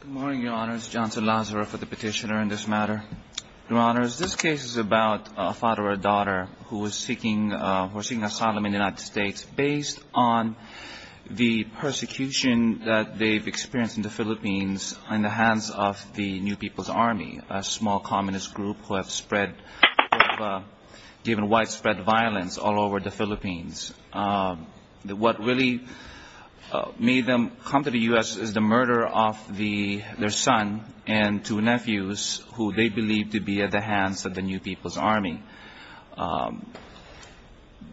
Good morning, Your Honors. Johnson Lazaro for the petitioner in this matter. Your Honors, this case is about a father or a daughter who is seeking asylum in the United States based on the persecution that they've experienced in the Philippines in the hands of the New People's Army, a small communist group who have given widespread violence all over the Philippines. What really made them come to the U.S. is the murder of their son and two nephews, who they believe to be at the hands of the New People's Army.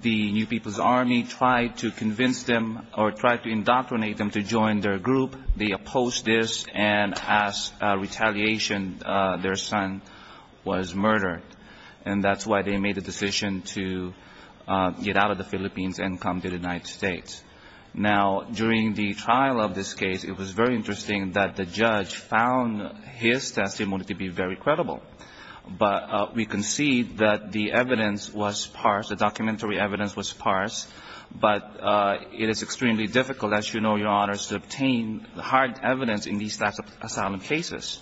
The New People's Army tried to convince them or tried to indoctrinate them to join their group. They opposed this, and as retaliation, their son was murdered. And that's why they made the decision to get out of the Philippines and come to the United States. Now, during the trial of this case, it was very interesting that the judge found his testimony to be very credible. But we can see that the evidence was parsed. The documentary evidence was parsed. But it is extremely difficult, as you know, Your Honors, to obtain hard evidence in these types of asylum cases.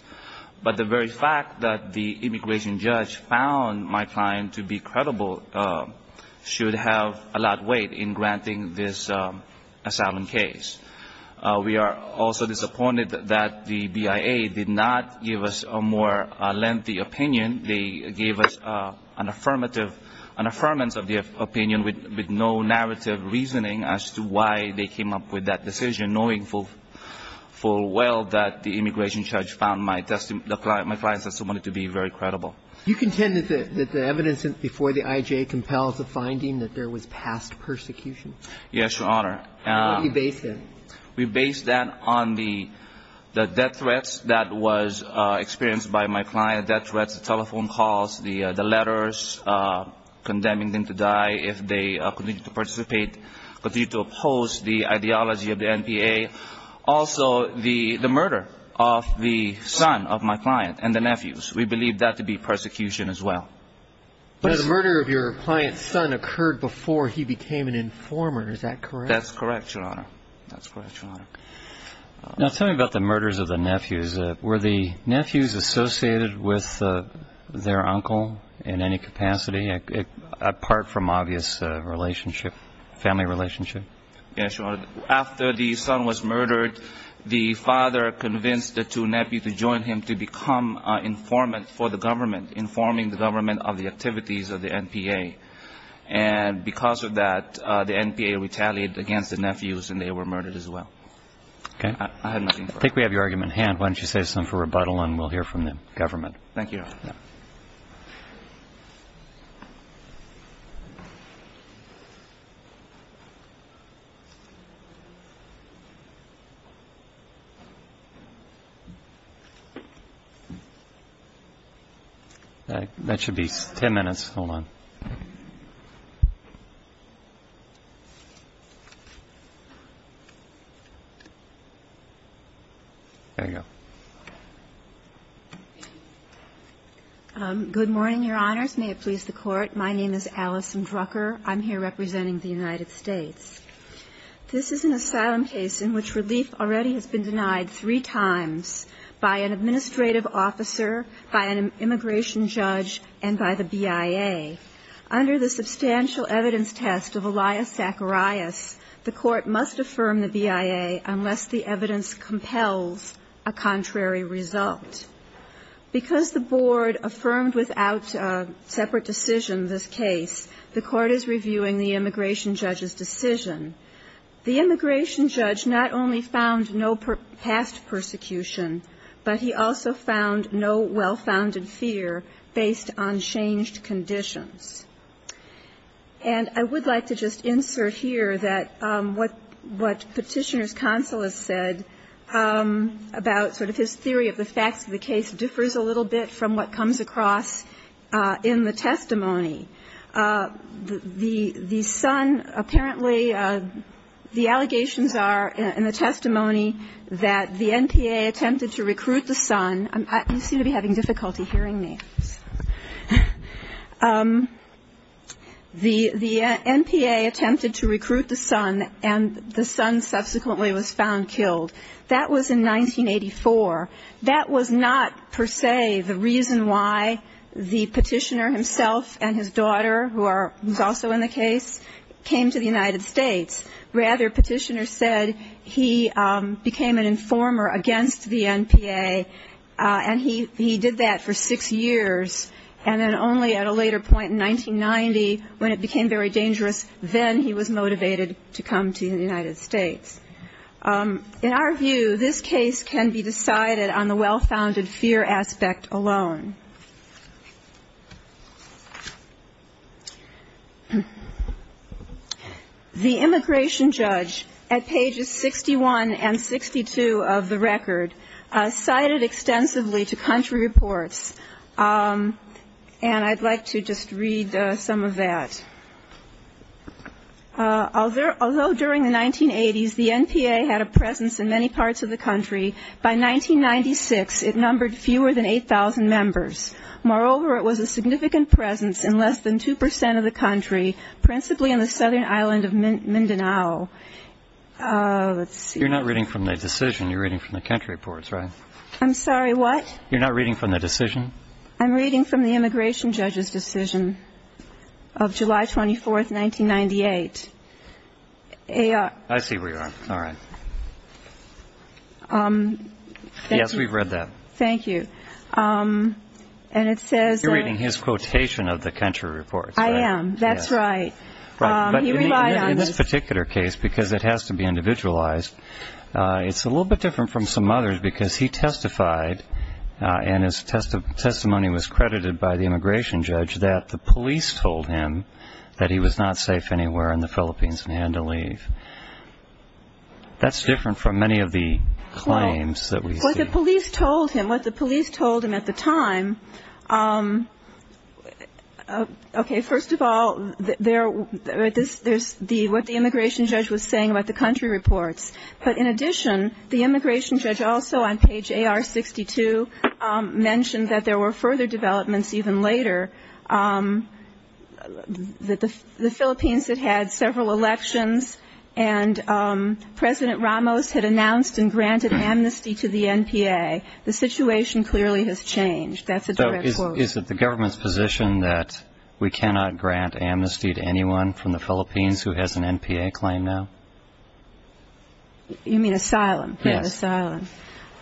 But the very fact that the immigration judge found my client to be credible should have a lot of weight in granting this asylum case. We are also disappointed that the BIA did not give us a more lengthy opinion. They gave us an affirmative, an affirmance of the opinion with no narrative reasoning as to why they came up with that decision, knowing full well that the immigration judge found my client's testimony to be very credible. You contend that the evidence before the IJA compels the finding that there was past persecution? Yes, Your Honor. And what do you base that? We base that on the death threats that was experienced by my client, death threats, the letters condemning them to die if they continue to participate, continue to oppose the ideology of the NPA. Also, the murder of the son of my client and the nephews. We believe that to be persecution as well. But the murder of your client's son occurred before he became an informer. Is that correct? That's correct, Your Honor. That's correct, Your Honor. Now tell me about the murders of the nephews. Were the nephews associated with their uncle in any capacity, apart from obvious family relationship? Yes, Your Honor. After the son was murdered, the father convinced the two nephews to join him to become informants for the government, informing the government of the activities of the NPA. And because of that, the NPA retaliated against the nephews, and they were murdered as well. Okay. I have nothing further. I think we have your argument at hand. Why don't you save some for rebuttal, and we'll hear from the government. Thank you, Your Honor. Thank you. That should be ten minutes. Hold on. There you go. Good morning, Your Honors. May it please the Court. My name is Allison Drucker. I'm here representing the United States. This is an asylum case in which relief already has been denied three times by an administrative officer, by an immigration judge, and by the BIA. Under the substantial evidence test of Elias Zacharias, the Court must affirm the BIA unless the evidence compels a contrary result. Because the Board affirmed without separate decision this case, the Court is reviewing the immigration judge's decision. The immigration judge not only found no past persecution, but he also found no well-founded fear based on changed conditions. And I would like to just insert here that what Petitioner's counsel has said about sort of his theory of the facts of the case differs a little bit from what comes across in the testimony. The son apparently, the allegations are in the testimony that the NPA attempted to recruit the son. You seem to be having difficulty hearing me. The NPA attempted to recruit the son, and the son subsequently was found killed. That was in 1984. That was not per se the reason why the Petitioner himself and his daughter, who are also in the case, came to the United States. Rather, Petitioner said he became an informer against the NPA, and he did that for six years. And then only at a later point in 1990, when it became very dangerous, then he was motivated to come to the United States. In our view, this case can be decided on the well-founded fear aspect alone. The immigration judge, at pages 61 and 62 of the record, cited extensively to country reports. And I'd like to just read some of that. Although during the 1980s the NPA had a presence in many parts of the country, by 1996 it numbered fewer than 8,000 members. Moreover, it was a significant presence in less than 2 percent of the country, principally on the southern island of Mindanao. Let's see. You're not reading from the decision. You're reading from the country reports, right? I'm sorry, what? You're not reading from the decision? I'm reading from the immigration judge's decision of July 24, 1998. I see where you are. All right. Yes, we've read that. Thank you. You're reading his quotation of the country reports, right? I am. That's right. He relied on this. In this particular case, because it has to be individualized, it's a little bit different from some others because he testified, and his testimony was credited by the immigration judge, that the police told him that he was not safe anywhere in the Philippines and had to leave. That's different from many of the claims that we see. Well, what the police told him, what the police told him at the time, okay, first of all, there's what the immigration judge was saying about the country reports. But in addition, the immigration judge also on page AR62 mentioned that there were further developments even later, that the Philippines had had several elections and President Ramos had announced and granted amnesty to the NPA. The situation clearly has changed. That's a direct quote. You mean asylum? Yes. Asylum.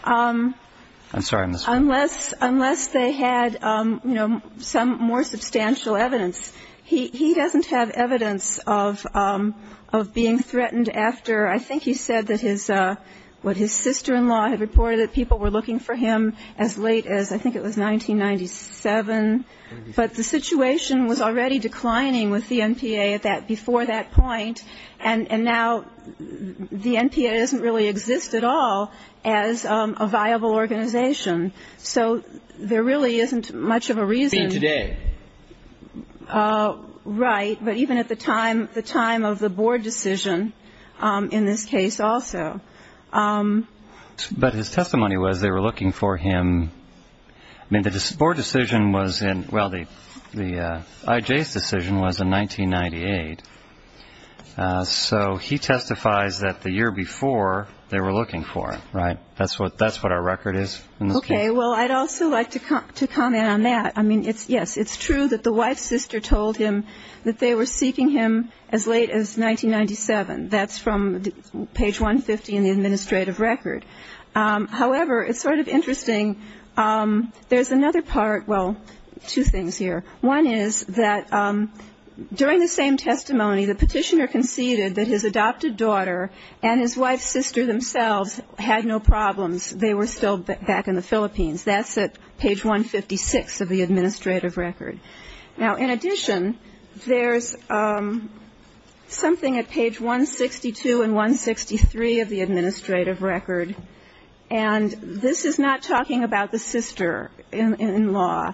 I'm sorry, Ms. Unless they had, you know, some more substantial evidence, he doesn't have evidence of being threatened after, I think he said that his sister-in-law had reported that people were looking for him as late as, I think it was 1997. But the situation was already declining with the NPA before that point. And now the NPA doesn't really exist at all as a viable organization. So there really isn't much of a reason. Even today. Right. But even at the time of the board decision in this case also. But his testimony was they were looking for him. I mean, the board decision was in, well, the IJ's decision was in 1998. So he testifies that the year before they were looking for him. Right. That's what our record is. Okay. Well, I'd also like to comment on that. I mean, yes, it's true that the wife's sister told him that they were seeking him as late as 1997. That's from page 150 in the administrative record. However, it's sort of interesting, there's another part, well, two things here. One is that during the same testimony, the petitioner conceded that his adopted daughter and his wife's sister themselves had no problems. They were still back in the Philippines. That's at page 156 of the administrative record. Now, in addition, there's something at page 162 and 163 of the administrative record. And this is not talking about the sister-in-law,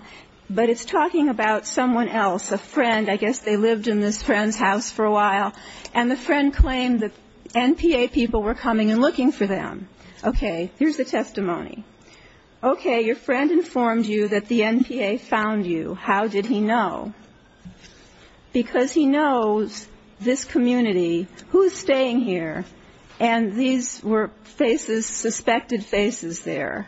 but it's talking about someone else, a friend. I guess they lived in this friend's house for a while. And the friend claimed that NPA people were coming and looking for them. Okay. Here's the testimony. Okay. Your friend informed you that the NPA found you. How did he know? Because he knows this community. Who's staying here? And these were faces, suspected faces there.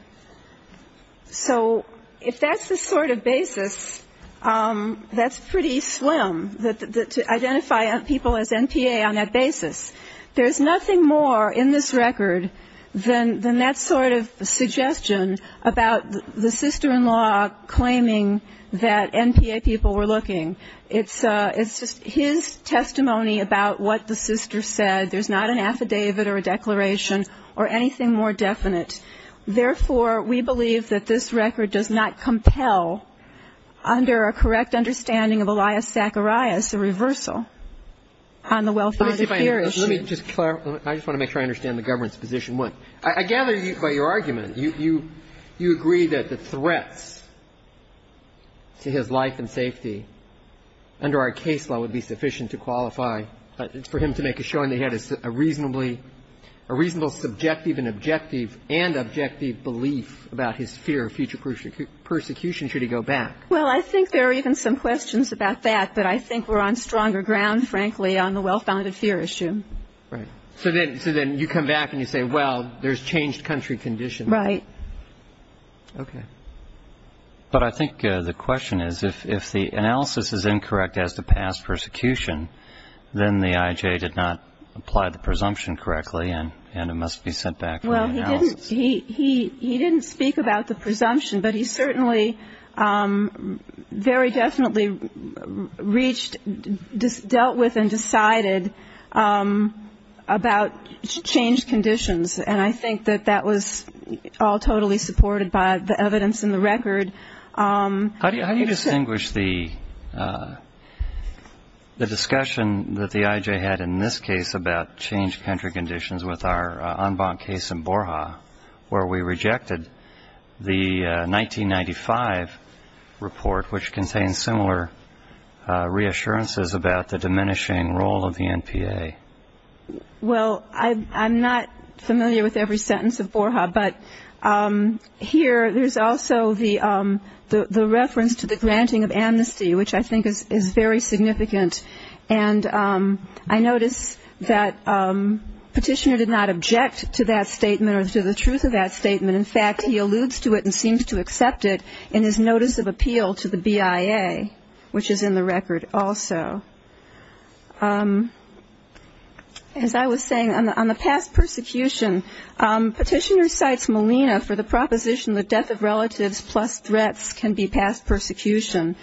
So if that's the sort of basis, that's pretty slim to identify people as NPA on that basis. There's nothing more in this record than that sort of suggestion about the sister-in-law claiming that NPA people were looking. It's just his testimony about what the sister said. There's not an affidavit or a declaration or anything more definite. Therefore, we believe that this record does not compel under a correct understanding of Elias Zacharias a reversal on the well-founded fear issue. Let me just clarify. I just want to make sure I understand the government's position. I gather by your argument, you agree that the threats to his life and safety under our case law would be sufficient to qualify for him to make a showing that he had a reasonably, a reasonable subjective and objective and objective belief about his fear of future persecution should he go back. Well, I think there are even some questions about that. But I think we're on stronger ground, frankly, on the well-founded fear issue. Right. So then you come back and you say, well, there's changed country conditions. Right. Okay. But I think the question is, if the analysis is incorrect as to past persecution, then the IJ did not apply the presumption correctly and it must be sent back for analysis. Well, he didn't speak about the presumption, but he certainly very definitely reached, dealt with and decided about changed conditions. And I think that that was all totally supported by the evidence in the record. How do you distinguish the discussion that the IJ had in this case about changed country conditions with our en banc case in Borja where we rejected the 1995 report, which contains similar reassurances about the diminishing role of the NPA? Well, I'm not familiar with every sentence of Borja, but here there's also the reference to the granting of amnesty, which I think is very significant. And I notice that Petitioner did not object to that statement or to the truth of that statement. In fact, he alludes to it and seems to accept it in his notice of appeal to the BIA, which is in the record also. As I was saying, on the past persecution, Petitioner cites Molina for the proposition that death of relatives plus threats can be past persecution.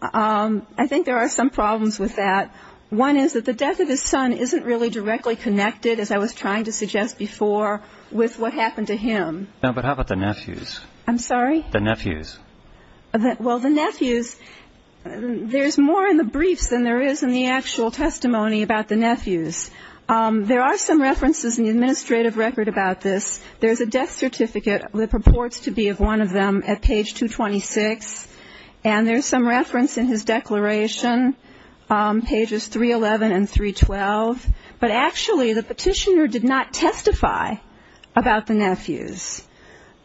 I think there are some problems with that. One is that the death of his son isn't really directly connected, as I was trying to suggest before, with what happened to him. No, but how about the nephews? I'm sorry? The nephews. Well, the nephews, there's more in the briefs than there is in the actual testimony about the nephews. There are some references in the administrative record about this. There's a death certificate that purports to be of one of them at page 226, and there's some reference in his declaration, pages 311 and 312. But actually, the Petitioner did not testify about the nephews.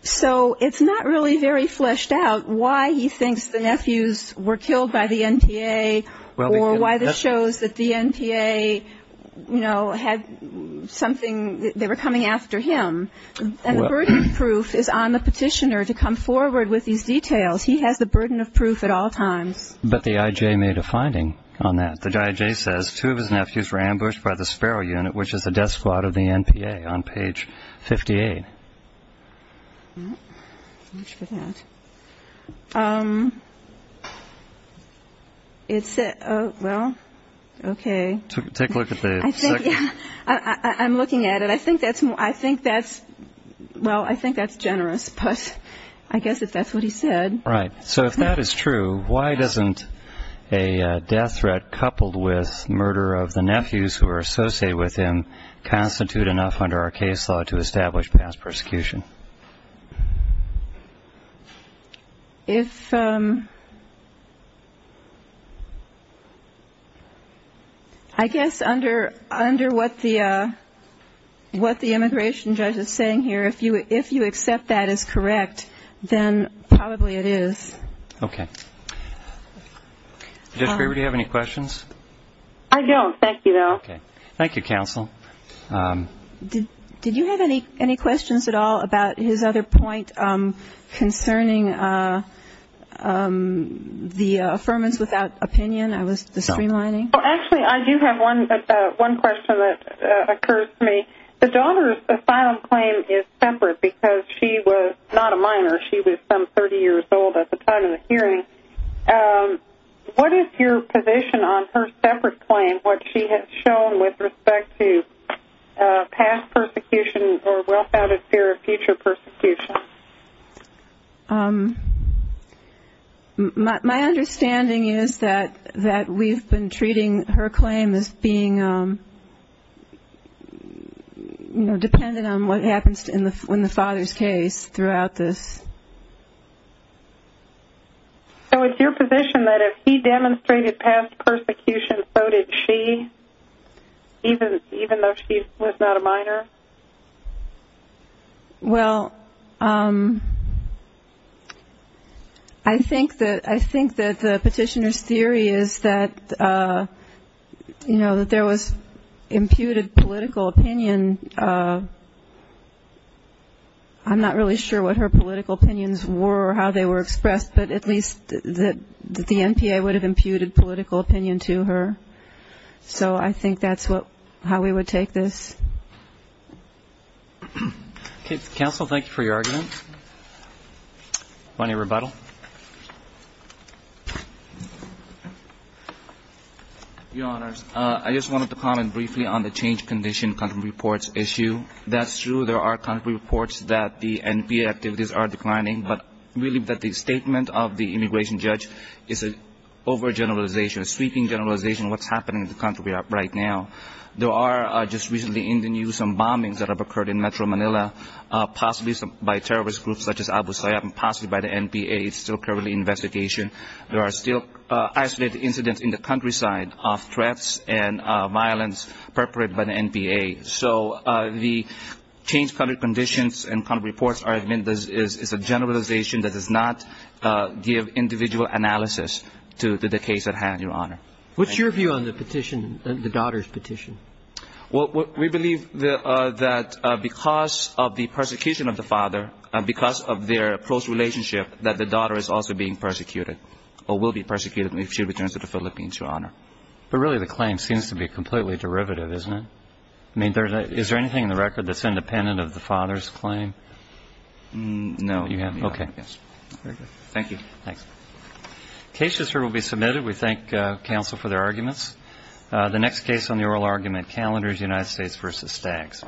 So it's not really very fleshed out why he thinks the nephews were killed by the NPA or why this shows that the NPA, you know, had something, they were coming after him. And the burden of proof is on the Petitioner to come forward with these details. He has the burden of proof at all times. But the IJ made a finding on that. The IJ says two of his nephews were ambushed by the Sparrow Unit, which is the death squad of the NPA, on page 58. Much for that. Well, okay. Take a look at the second. I'm looking at it. I think that's, well, I think that's generous, but I guess if that's what he said. Right. So if that is true, why doesn't a death threat coupled with murder of the nephews who are associated with him constitute enough under our case law to establish past persecution? If I guess under what the immigration judge is saying here, if you accept that as correct, then probably it is. Okay. Judge Graber, do you have any questions? I don't. Thank you, though. Okay. Thank you, counsel. Did you have any questions at all about his other point concerning the affirmance without opinion, the streamlining? Well, actually, I do have one question that occurs to me. The daughter's asylum claim is separate because she was not a minor. She was some 30 years old at the time of the hearing. What is your position on her separate claim, what she has shown with respect to past persecution or well-founded fear of future persecution? My understanding is that we've been treating her claim as being, you know, dependent on what happens in the father's case throughout this. So it's your position that if he demonstrated past persecution, so did she, even though she was not a minor? Well, I think that the petitioner's theory is that, you know, that there was imputed political opinion. I'm not really sure what her political opinions were or how they were expressed, but at least that the NPA would have imputed political opinion to her. So I think that's how we would take this. Okay. Counsel, thank you for your argument. Do you want a rebuttal? Your Honors, I just wanted to comment briefly on the change condition country reports issue. That's true. There are country reports that the NPA activities are declining, but really that the statement of the immigration judge is an overgeneralization, a sweeping generalization of what's happening in the country right now. There are just recently in the news some bombings that have occurred in Metro Manila, possibly by terrorist groups such as Abu Sayyaf and possibly by the NPA. It's still currently an investigation. There are still isolated incidents in the countryside of threats and violence perpetrated by the NPA. So the change country conditions and country reports are, I mean, it's a generalization that does not give individual analysis to the case at hand, Your Honor. What's your view on the petition, the daughter's petition? Well, we believe that because of the persecution of the father, because of their close relationship that the daughter is also being persecuted or will be persecuted if she returns to the Philippines, Your Honor. But really the claim seems to be completely derivative, isn't it? I mean, is there anything in the record that's independent of the father's claim? No. Okay. Very good. Thank you. Thanks. We thank counsel for their arguments. The next case on the oral argument, Calendars, United States v. Staggs.